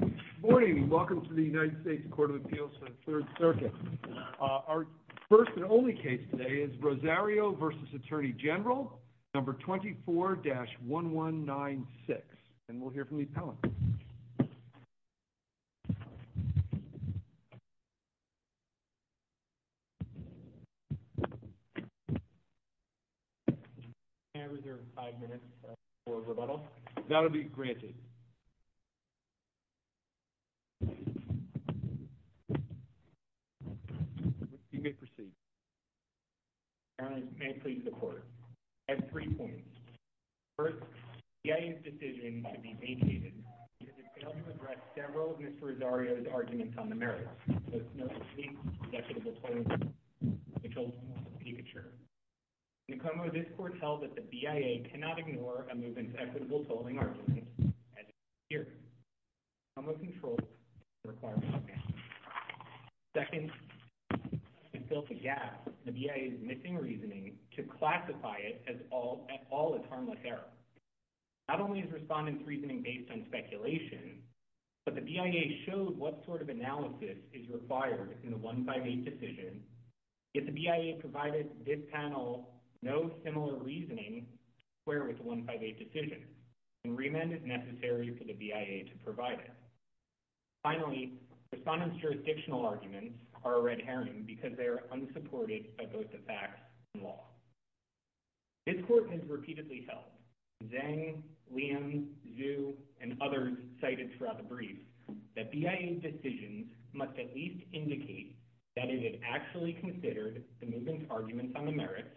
Good morning. Welcome to the United States Court of Appeals for the Third Circuit. Our first and only case today is Rosario v. Attorney General, number 24-1196. And we'll hear from Lee Pellant. May I reserve five minutes for rebuttal? That will be granted. You may proceed. Your Honor, may I please report? I have three points. First, the BIA's decision to be vacated because it failed to address several of Mr. Rosario's arguments on the merits. First, no complete and equitable tolling of the children of the Pikachu. In the common law, this Court held that the BIA cannot ignore a movement's equitable tolling argument as it appears. The common law controls the requirement. Second, to fill the gap, the BIA is missing reasoning to classify it as all at all a harmless error. Not only is Respondent's reasoning based on speculation, but the BIA showed what sort of analysis is required in the 158 decision, yet the BIA provided this panel no similar reasoning to square with the 158 decision and remand is necessary for the BIA to provide it. Finally, Respondent's jurisdictional arguments are a red herring because they are unsupported by both the facts and law. This Court has repeatedly held Zeng, Liam, Zhu, and others cited throughout the brief that BIA's decisions must at least indicate that it had actually considered the movement's arguments on the merits,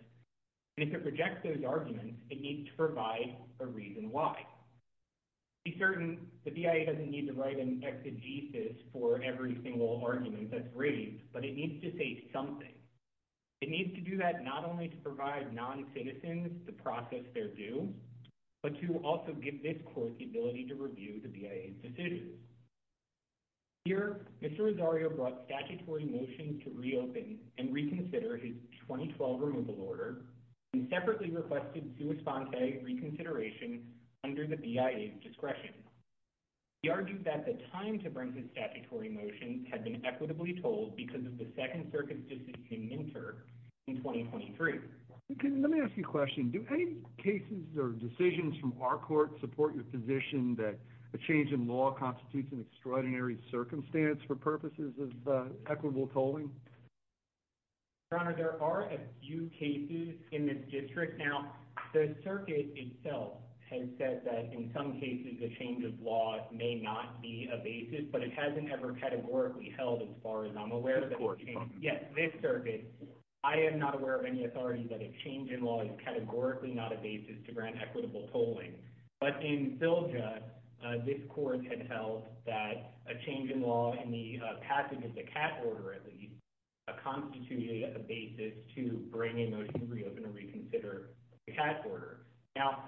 and if it rejects those arguments, it needs to provide a reason why. To be certain, the BIA doesn't need to write an exegesis for every single argument that's raised, but it needs to say something. It needs to do that not only to provide non-citizens the process they're due, but to also give this Court the ability to review the BIA's decisions. Here, Mr. Rosario brought statutory motions to reopen and reconsider his 2012 removal order, and separately requested Sua Sponte reconsideration under the BIA's discretion. He argued that the time to bring his statutory motions had been equitably told because of the circuit's decision to inter in 2023. Let me ask you a question. Do any cases or decisions from our Court support your position that a change in law constitutes an extraordinary circumstance for purposes of equitable tolling? Your Honor, there are a few cases in this district. Now, the circuit itself has said that in some cases a change of law may not be a basis, but it hasn't ever categorically held, as far as I'm aware. Yes, this circuit, I am not aware of any authority that a change in law is categorically not a basis to grant equitable tolling. But in Silja, this Court had held that a change in law in the passage of the CAT order, at least, constituted a basis to bring a motion to reopen and reconsider the CAT order. Now,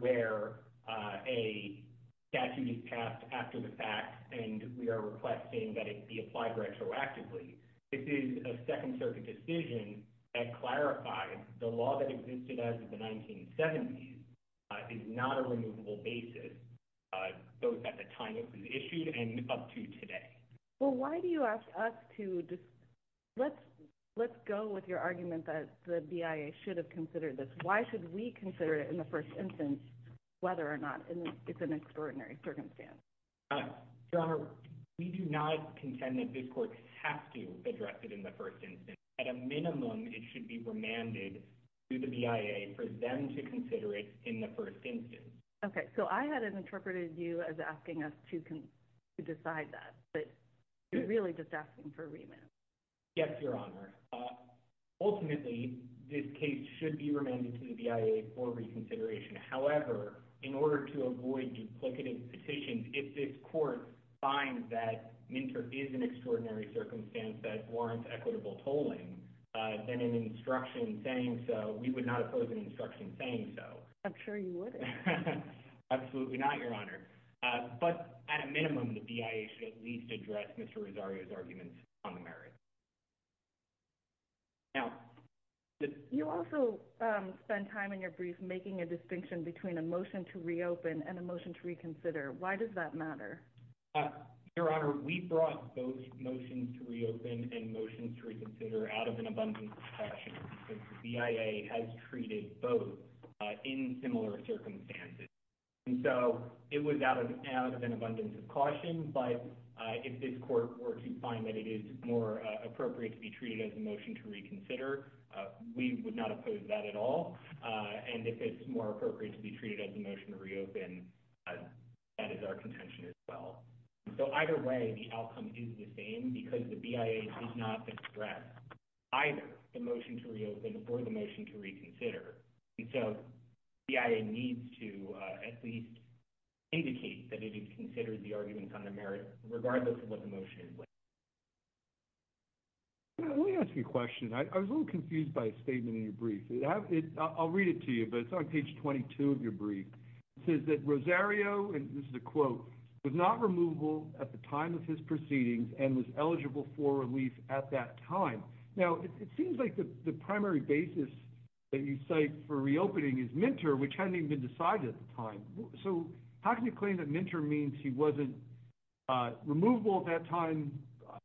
where a statute is passed after the fact and we are requesting that it be applied retroactively, this is a Second Circuit decision that clarified the law that existed as of the 1970s is not a removable basis, both at the time it was issued and up to today. Well, why do you ask us to just, let's go with your argument that the BIA should have considered this. Why should we consider it in the first instance, whether or not it's an extraordinary circumstance? Your Honor, we do not contend that this Court has to address it in the first instance. At a minimum, it should be remanded to the BIA for them to consider it in the first instance. Okay, so I hadn't interpreted you as asking us to decide that, but you're really just asking for remand. Yes, Your Honor. Ultimately, this case should be remanded to the BIA for reconsideration. However, in order to avoid duplicative petitions, if this Court finds that Minter is an extraordinary circumstance that warrants equitable tolling, then an instruction saying so, we would not oppose an instruction saying so. I'm sure you wouldn't. Absolutely not, Your Honor. But at a minimum, it should be remanded to the BIA for them to consider it in the first instance. You also spend time in your brief making a distinction between a motion to reopen and a motion to reconsider. Why does that matter? Your Honor, we brought both motions to reopen and motions to reconsider out of an abundance of caution. The BIA has treated both in similar circumstances. It was out of an abundance of caution, but if this Court were to find that it is more appropriate to be treated as a motion to reconsider, we would not oppose that at all, and if it's more appropriate to be treated as a motion to reopen, that is our contention as well. So either way, the outcome is the same because the BIA does not express either the motion to reopen or the motion to reconsider, and so the BIA needs to at least indicate that it has considered the regardless of what the motion is. Let me ask you a question. I was a little confused by a statement in your brief. I'll read it to you, but it's on page 22 of your brief. It says that Rosario, and this is a quote, was not removable at the time of his proceedings and was eligible for relief at that time. Now, it seems like the primary basis that you cite for reopening is which hadn't even been decided at the time, so how can you claim that Minter means he wasn't removable at that time?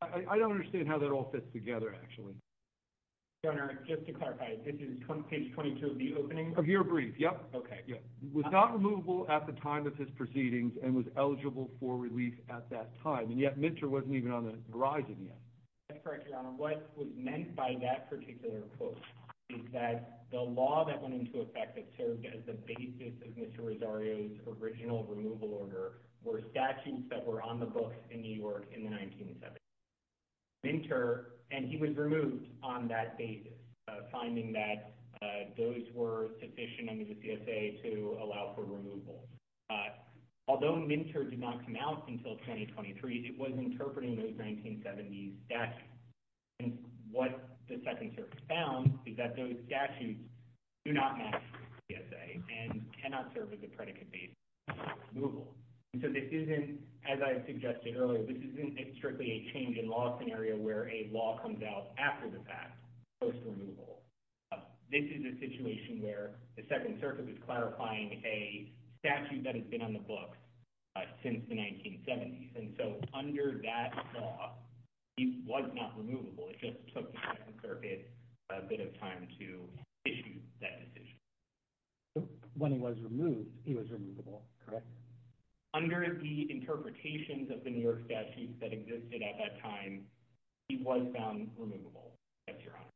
I don't understand how that all fits together, actually. Your Honor, just to clarify, this is page 22 of the opening? Of your brief, yep. Okay. Yeah, was not removable at the time of his proceedings and was eligible for relief at that time, and yet Minter wasn't even on the horizon yet. That's correct, Your Honor. What was meant by that particular quote is that the law that went into effect that served as the basis of Mr. Rosario's original removal order were statutes that were on the books in New York in the 1970s. Minter, and he was removed on that basis, finding that those were sufficient under the CSA to allow for removal. Although Minter did not come out until 2023, it was interpreting those 1970s and what the Second Circuit found is that those statutes do not match the CSA and cannot serve as a predicate basis for removal. So this isn't, as I suggested earlier, this isn't strictly a change in law scenario where a law comes out after the fact post-removal. This is a situation where the Second Circuit is clarifying a statute that has been on the books since the 1970s, and so under that law, he was not removable. It just took the Second Circuit a bit of time to issue that decision. When he was removed, he was removable, correct? Under the interpretations of the New York statutes that existed at that time, he was found removable, yes, Your Honor.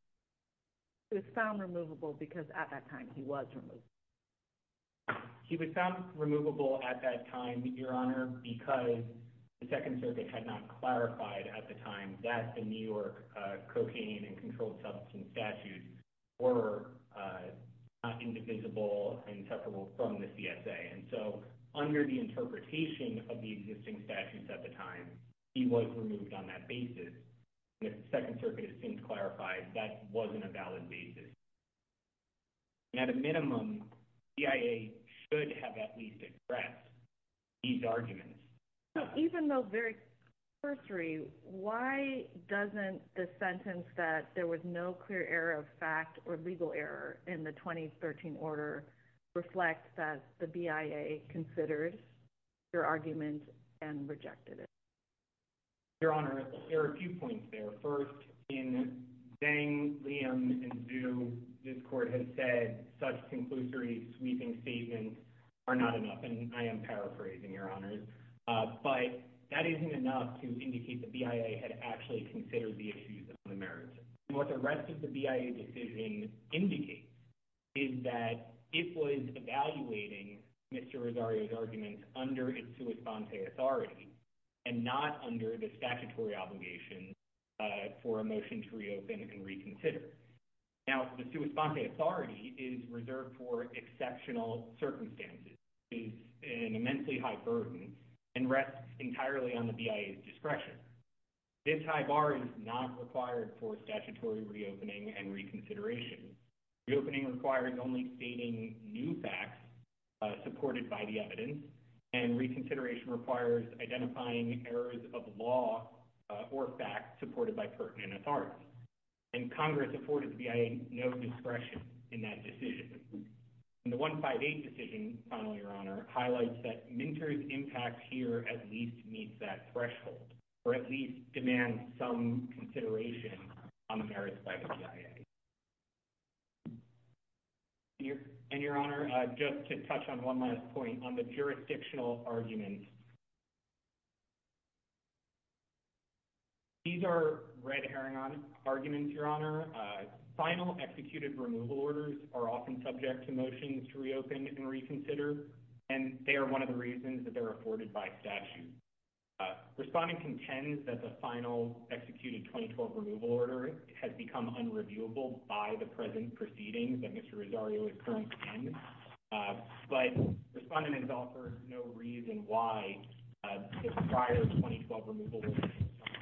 He was found removable because at that time he was removable. He was found removable at that time, Your Honor, because the Second Circuit had not clarified at the time that the New York cocaine and controlled substance statutes were not indivisible and separable from the CSA. And so under the interpretation of the existing statutes at the time, he was removed on that basis. If the Second Circuit has since clarified, that wasn't a valid basis. And at a minimum, BIA should have at least expressed these arguments. Even though very cursory, why doesn't the sentence that there was no clear error of fact or legal error in the 2013 order reflect that the BIA considered your argument and rejected it? Your Honor, there are a few points there. First, in saying Liam is due, this Court has said such conclusory sweeping statements are not enough. And I am paraphrasing, Your Honor. But that isn't enough to indicate the BIA had actually considered the issues of the merits. What the rest of the BIA decision indicates is that it was evaluating Mr. Rosario's arguments under its sua sponte authority and not under the statutory obligation for a motion to reopen and reconsider. Now, the sua sponte authority is reserved for exceptional circumstances. It is an immensely high burden and rests entirely on the BIA's discretion. This high bar is not required for statutory reopening and reconsideration. Reopening requires only stating new facts supported by the evidence, and reconsideration requires identifying errors of law or facts supported by pertinent authority. And Congress afforded the BIA no discretion in that decision. And the 158 decision, Your Honor, highlights that Minter's impact here at least meets that threshold, or at least demands some consideration on the merits by the BIA. And Your Honor, just to touch on one last point on the jurisdictional arguments. These are red herring arguments, Your Honor. Final executed removal orders are often subject to motions to reopen and reconsider, and they are one of the reasons that they're afforded by statute. Respondent contends that the final executed 2012 removal order has become unreviewable by the present proceedings that Mr. Rosario is currently in, but Respondent has offered no reason why prior 2012 removal orders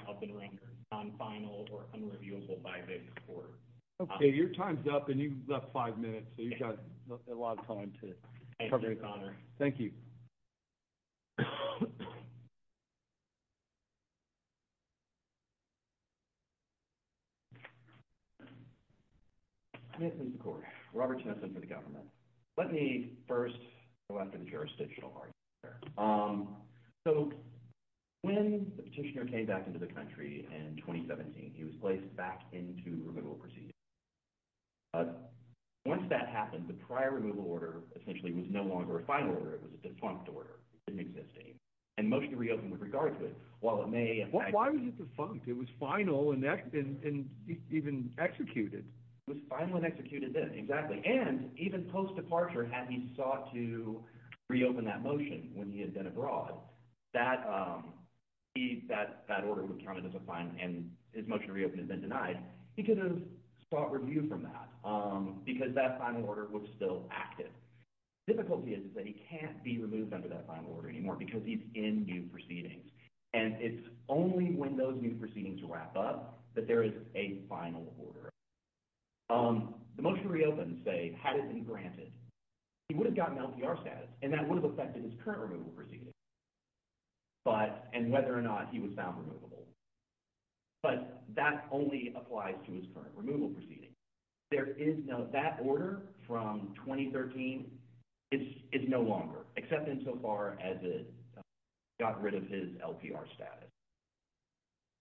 have been rendered non-final or unreviewable by this court. Okay, your time's up and you've left five minutes, so you've got a lot of time to cover. Thank you. Mr. McCord, Robert Thompson for the government. Let me first go after the jurisdictional argument here. So, when the petitioner came back into the country in 2017, he was placed back into removal proceedings. Once that happened, the prior removal order essentially was no longer a final order. It was a defunct order. It didn't exist anymore. And motion to reopen with regards to it, while it may— Why was it defunct? It was final and even executed. It was final and executed then, exactly. And even post-departure, had he sought to reopen that motion when he had been abroad, that order would have counted as a final, and his motion to reopen had been denied. He could have sought review from that because that final order was still active. The difficulty is that he can't be removed under that final order anymore because he's in new proceedings, and it's only when those new proceedings wrap up that there is a final order. The motion to reopen, say, had it been granted, he would have gotten LPR status, and that would have affected his current removal removal proceedings. There is no—that order from 2013 is no longer, except insofar as it got rid of his LPR status.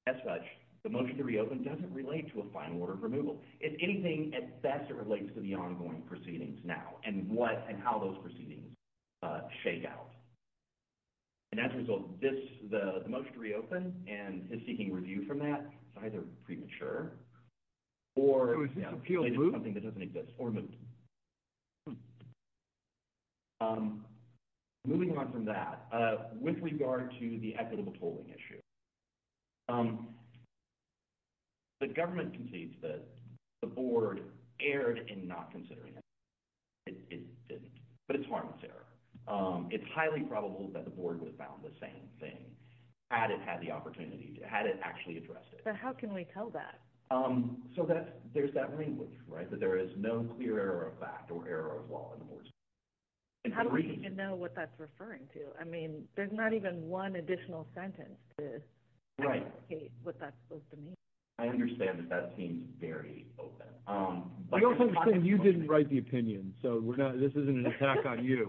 As such, the motion to reopen doesn't relate to a final order of removal. If anything, at best, it relates to the ongoing proceedings now and what and how those proceedings shake out. And as a result, this—the motion to reopen and his seeking review from that is either premature or something that doesn't exist or moved. Moving on from that, with regard to the equitable polling issue, the government concedes that the board erred in not considering it, but it's harmless error. It's highly probable that the board would have found the same thing had it had the opportunity—had it actually addressed it. But how can we tell that? So that's—there's that language, right, that there is no clear error of fact or error of law in the board's decision. How do we even know what that's referring to? I mean, there's not even one additional sentence to indicate what that's supposed to mean. I understand that that seems very open. I also understand you didn't write the opinion, so we're not—this isn't an attack on you.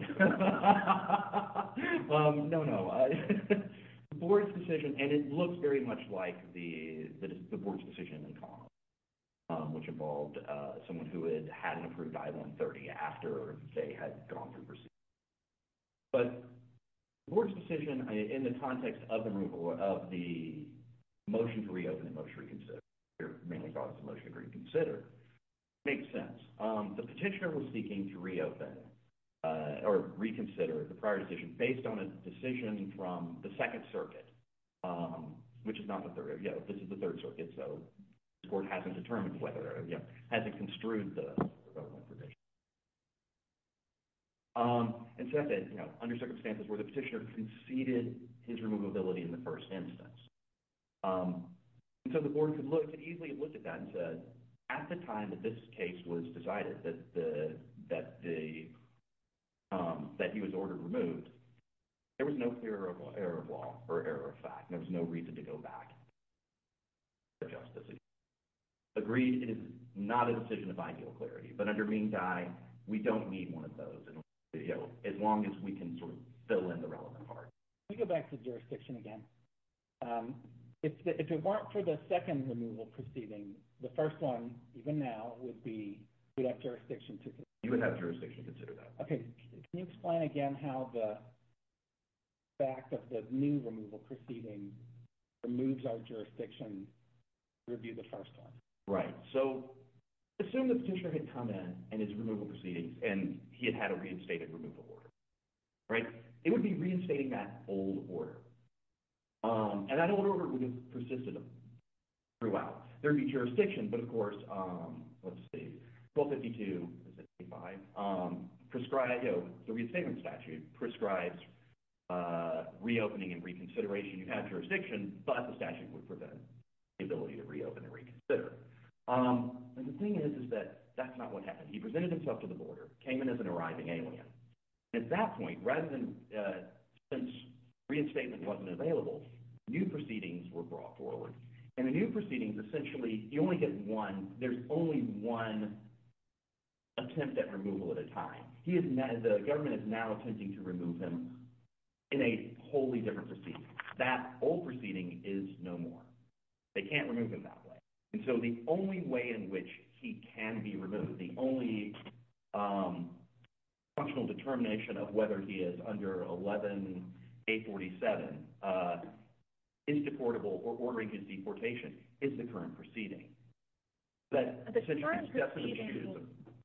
No, no, the board's decision—and it looks very much like the board's decision in common, which involved someone who had had an approved I-130 after they had gone through proceedings. But the board's decision in the context of the motion to reopen and motion to reconsider—mainly thought it was a motion to reconsider—makes sense. The petitioner was seeking to reopen or reconsider the prior decision based on a decision from the Second Circuit, which is not the Third—this is the Third Circuit, so this board hasn't determined whether—hasn't construed the development provision. And so that's under circumstances where the petitioner conceded his removability in the first instance. And so the board could look—could easily have looked at that and said, at the time that this case was decided that the—that he was ordered removed, there was no clear error of law or error of fact, and there was no reason to go back to justice. Agreed, it is not a decision of ideal clarity, but in the meantime, we don't need one of those as long as we can sort of fill in the relevant parts. Let me go back to jurisdiction again. If it weren't for the second removal proceeding, the first one, even now, would be—we'd have jurisdiction to— You would have jurisdiction to consider that. Okay, can you explain again how the fact of the new removal proceeding removes our jurisdiction to review the first one? Right, so assume the petitioner had come in and his removal proceedings, and he had had a reinstated removal order, right? It would be reinstating that old order. And that order would have persisted throughout. There would be jurisdiction, but of course, let's see, 1252—is it 85? The reinstatement statute prescribes reopening and reconsideration. You have jurisdiction, but the statute would prevent the ability to reopen and reconsider. And the thing is, is that that's not what happened. He presented himself to the boarder, came in as an arriving alien. At that point, rather than—since reinstatement wasn't available, new proceedings were brought forward. And the new proceedings, essentially, you only get one. There's only one attempt at removal at a time. The government is now attempting to remove him in a wholly different proceeding. That old proceeding is no more. They can't remove him that way. And so the only way in which he can be removed, the only functional determination of whether he is under 11-847 is deportable, or ordering his deportation, is the current proceeding. The current proceeding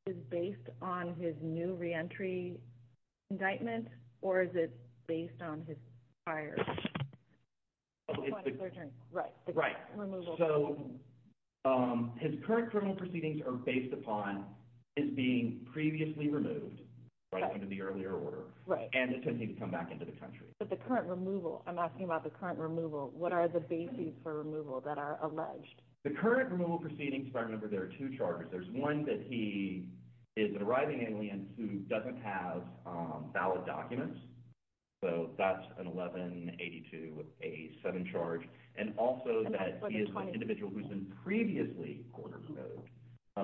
is based on his new reentry indictment, or is it based on his prior? Oh, it's the— Right, the current removal. So his current criminal proceedings are based upon his being previously removed, according to the earlier order, and attempting to come back into the country. But the current removal—I'm asking about the current removal. What are the bases for removal that are alleged? The current removal proceedings, if I remember, there are two charges. There's one that he is an arriving alien who doesn't have valid documents. So that's an 11-8287 charge. And also that he is an individual who's been previously ordered to go,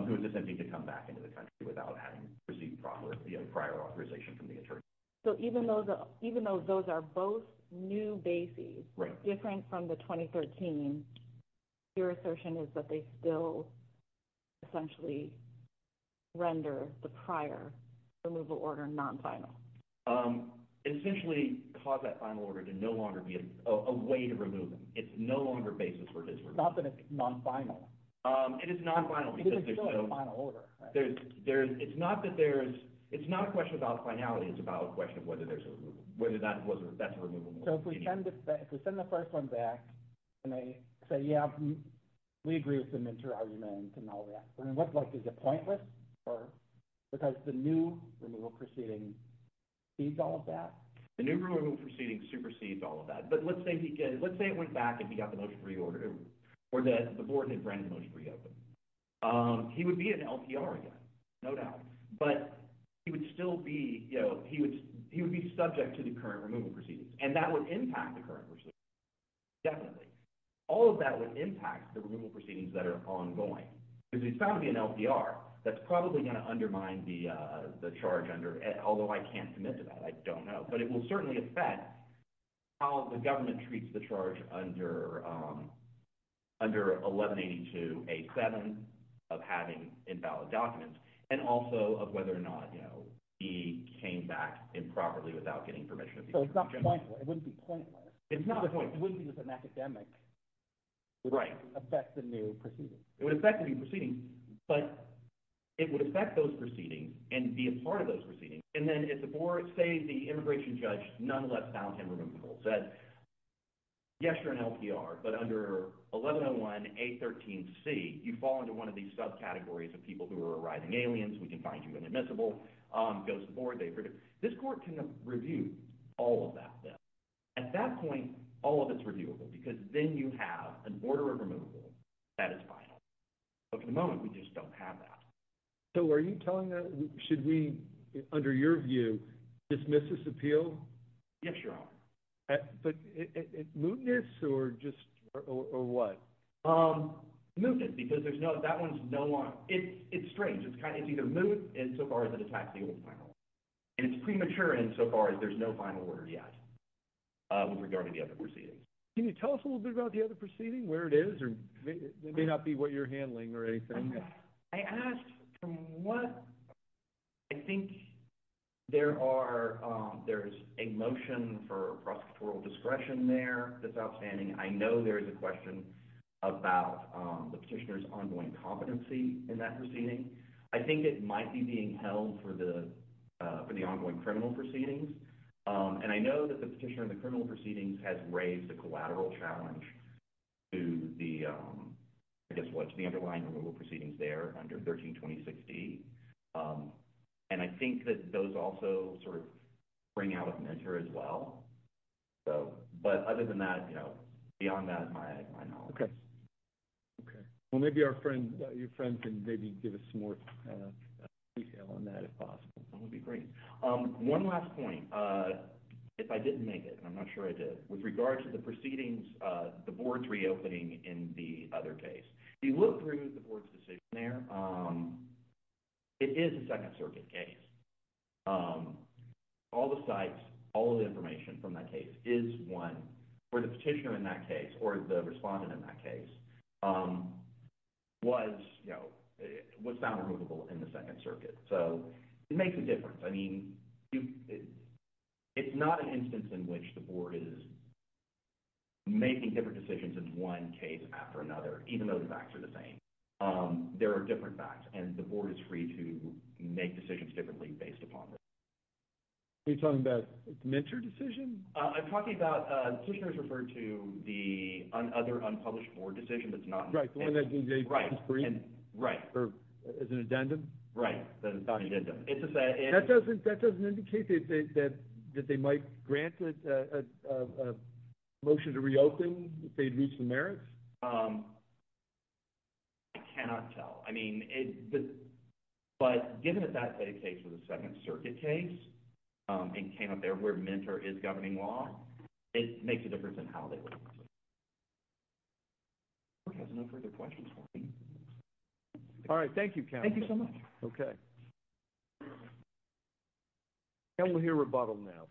who is attempting to come back into the country without having received prior authorization from the attorney. So even though those are both new bases, different from the 2013, your assertion is that they still essentially render the prior removal order non-final? Essentially cause that final order to no longer be a way to remove him. It's no longer basis for his removal. Not that it's non-final. It is non-final because there's no— It is still a final order, right? It's not that there's—it's not a question about finality. It's about a question of whether there's a—whether that's a removal order. So if we send the first one back, and they say, yeah, we agree with the Minter argument and all that, then what's left? Is it pointless? Because the new removal proceeding supersedes all of that. The new removal proceeding supersedes all of that. But let's say he—let's say it went back and he got the motion reordered, or the Borton and Brennan motion reopened. He would be an LPR again, no doubt. But he would still be, you know, he would be subject to the current removal proceedings. And that would impact the current procedure, definitely. All of that would impact the removal proceedings that are ongoing. Because he's found to be an LPR. That's probably going to undermine the charge under—although I can't commit to that. I don't know. But it will certainly affect how the government treats the charge under 1182-A-7 of having invalid documents and also of whether or not he came back improperly without getting permission. So it's not pointless. It wouldn't be pointless. It's not a point— It wouldn't be that an academic would affect the new proceeding. It would affect the new proceedings. But it would affect those proceedings and be a part of those proceedings. And then if the board—say the immigration judge nonetheless found him removable, said, yes, you're an LPR, but under 1101-A-13-C, you fall into one of these subcategories of people who are arriving aliens, we can find you inadmissible, goes to the board, they— This court can review all of that then. At that point, all of it's reviewable because then you have an order of removal that is final. But at the moment, we just don't have that. So are you telling us—should we, under your view, dismiss this appeal? Yes, Your Honor. But mootness or just—or what? Mootness because there's no—that one's no longer—it's strange. It's kind of—it's either moot insofar as it attacks the old final. And it's premature insofar as there's no final order yet with regard to the other proceedings. Can you tell us a little bit about the other proceeding, where it is? It may not be what you're handling or anything. I asked from what—I think there are—there's a motion for prosecutorial discretion there that's outstanding. I know there is a question about the petitioner's ongoing competency in that proceeding. I think it might be being held for the ongoing criminal proceedings. And I know that the petitioner in the criminal proceedings has raised a collateral challenge to the—I guess what—to the underlying criminal proceedings there under 132060. And I think that those also sort of bring out a measure as well. So—but other than that, you know, beyond that is my knowledge. Okay. Well, maybe our friend—your friend can maybe give us some more detail on that if possible. That would be great. One last point. If I didn't make it—and I'm not sure I did—with regard to the proceedings the board's reopening in the other case. If you look through the board's decision there, it is a Second Circuit case. All the sites, all the information from that case is one where the petitioner in that case or the respondent in that case was, you know, was found removable in the Second Circuit. So it makes a difference. I mean, it's not an instance in which the board is making different decisions in one case after another, even though the facts are the same. There are different facts. And the board is free to make decisions differently based upon them. Are you talking about a commensurate decision? I'm talking about—the petitioner's referred to the other unpublished board decision that's not— Right. The one that's on the agenda screen. Right. Or is an addendum. Right. That is not an addendum. That doesn't indicate that they might grant a motion to reopen if they'd reached the merits? I cannot tell. I mean, but given that that case was a Second Circuit case and came up there where MNTER is governing law, it makes a difference in how they work. The board has no further questions for me. All right. Thank you, Kevin. Thank you so much. Okay. Kevin, we'll hear a rebuttal now.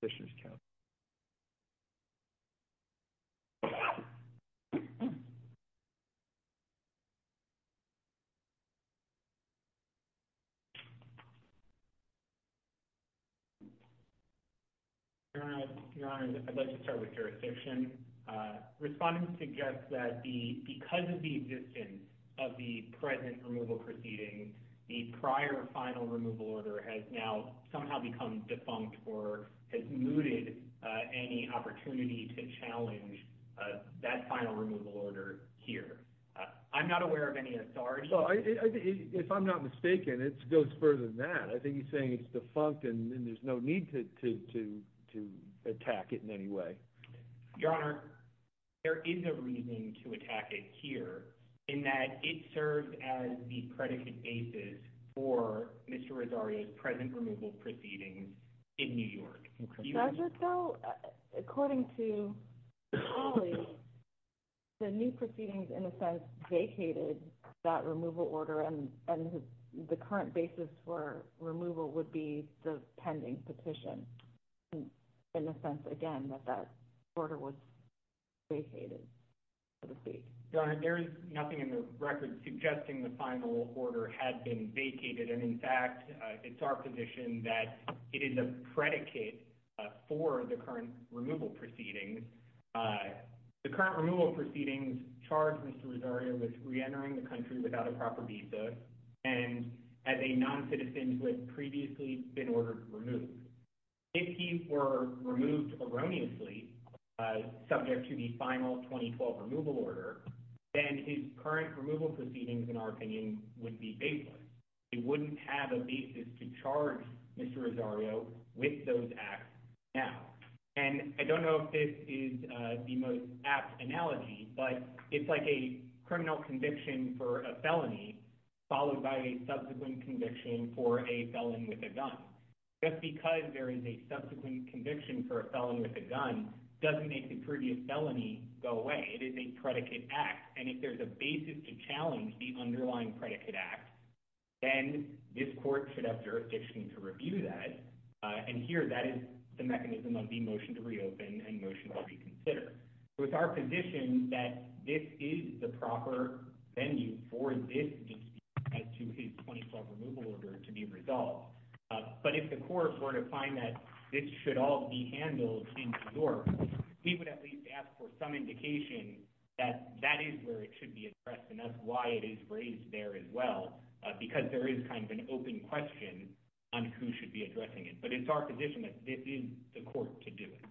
Petitioner's count. Your Honor, I'd like to start with jurisdiction. Respondents suggest that because of the existence of the present removal proceeding, the prior final removal order has now somehow become defunct or has mooted any opportunity to challenge that final removal order here. I'm not aware of any authority— Well, if I'm not mistaken, it goes further than that. I think he's saying it's defunct and there's no need to attack it in any way. Your Honor, there is a reason to attack it here in that it serves as the predicate basis for Mr. Rosario's present removal proceedings in New York. According to the new proceedings, in a sense, vacated that removal order, and the current basis for removal would be the pending petition. In a sense, again, that that order was vacated, so to speak. Your Honor, there is nothing in the record suggesting the final order had been vacated, and in fact, it's our position that it is a predicate for the current removal proceedings. The current removal proceedings charged Mr. Rosario with reentering the country without a proper visa and as a non-citizen who had previously been ordered to remove. If he were removed erroneously, subject to the final 2012 removal order, then his current removal proceedings, in our opinion, would be baseless. He wouldn't have a basis to charge Mr. Rosario with those acts now. I don't know if this is the most apt analogy, but it's like a criminal conviction for a felony followed by a subsequent conviction for a felon with a gun. Just because there is a subsequent conviction for a felon with a gun doesn't make the previous felony go away. It is a predicate act, and if there's a basis to challenge the underlying predicate act, then this court should have jurisdiction to review that, and here, that is the mechanism of the motion to reopen and motion to reconsider. It's our position that this is the proper venue for this dispute as to his 2012 removal order to be resolved, but if the court were to find that this should all be handled in court, we would at least ask for some indication that that is where it should be addressed, and that's why it is raised there as well, because there is kind of an open question on who should be addressing it, but it's our position that this is the court to do it.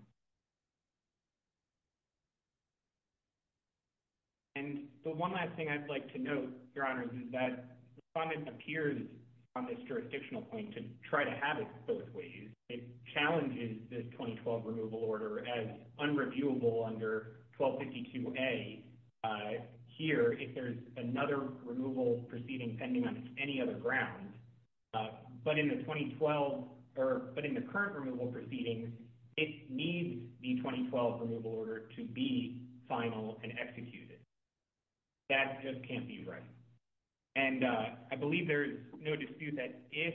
And the one last thing I'd like to note, Your Honors, is that the respondent appears on this jurisdictional point to try to have it both ways. It challenges this 2012 removal order as unreviewable under 1252A here if there's another removal proceeding pending on any other ground, but in the current removal proceedings, it needs the 2012 removal order to be final and executed. That just can't be right, and I believe there's no dispute that if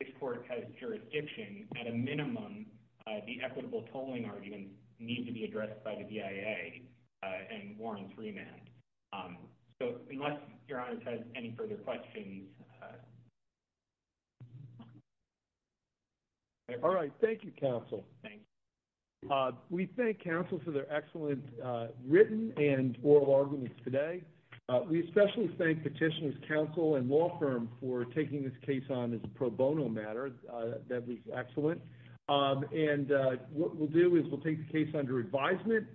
this court has jurisdiction, at a minimum, the equitable tolling arguments need to be addressed by the DIA and warrants remand. So unless Your Honors has any further questions. All right. Thank you, counsel. We thank counsel for their excellent written and oral arguments today. We especially thank Petitioner's Counsel and law firm for taking this case on as a pro bono matter. That was excellent. And what we'll do is we'll take the case under advisement,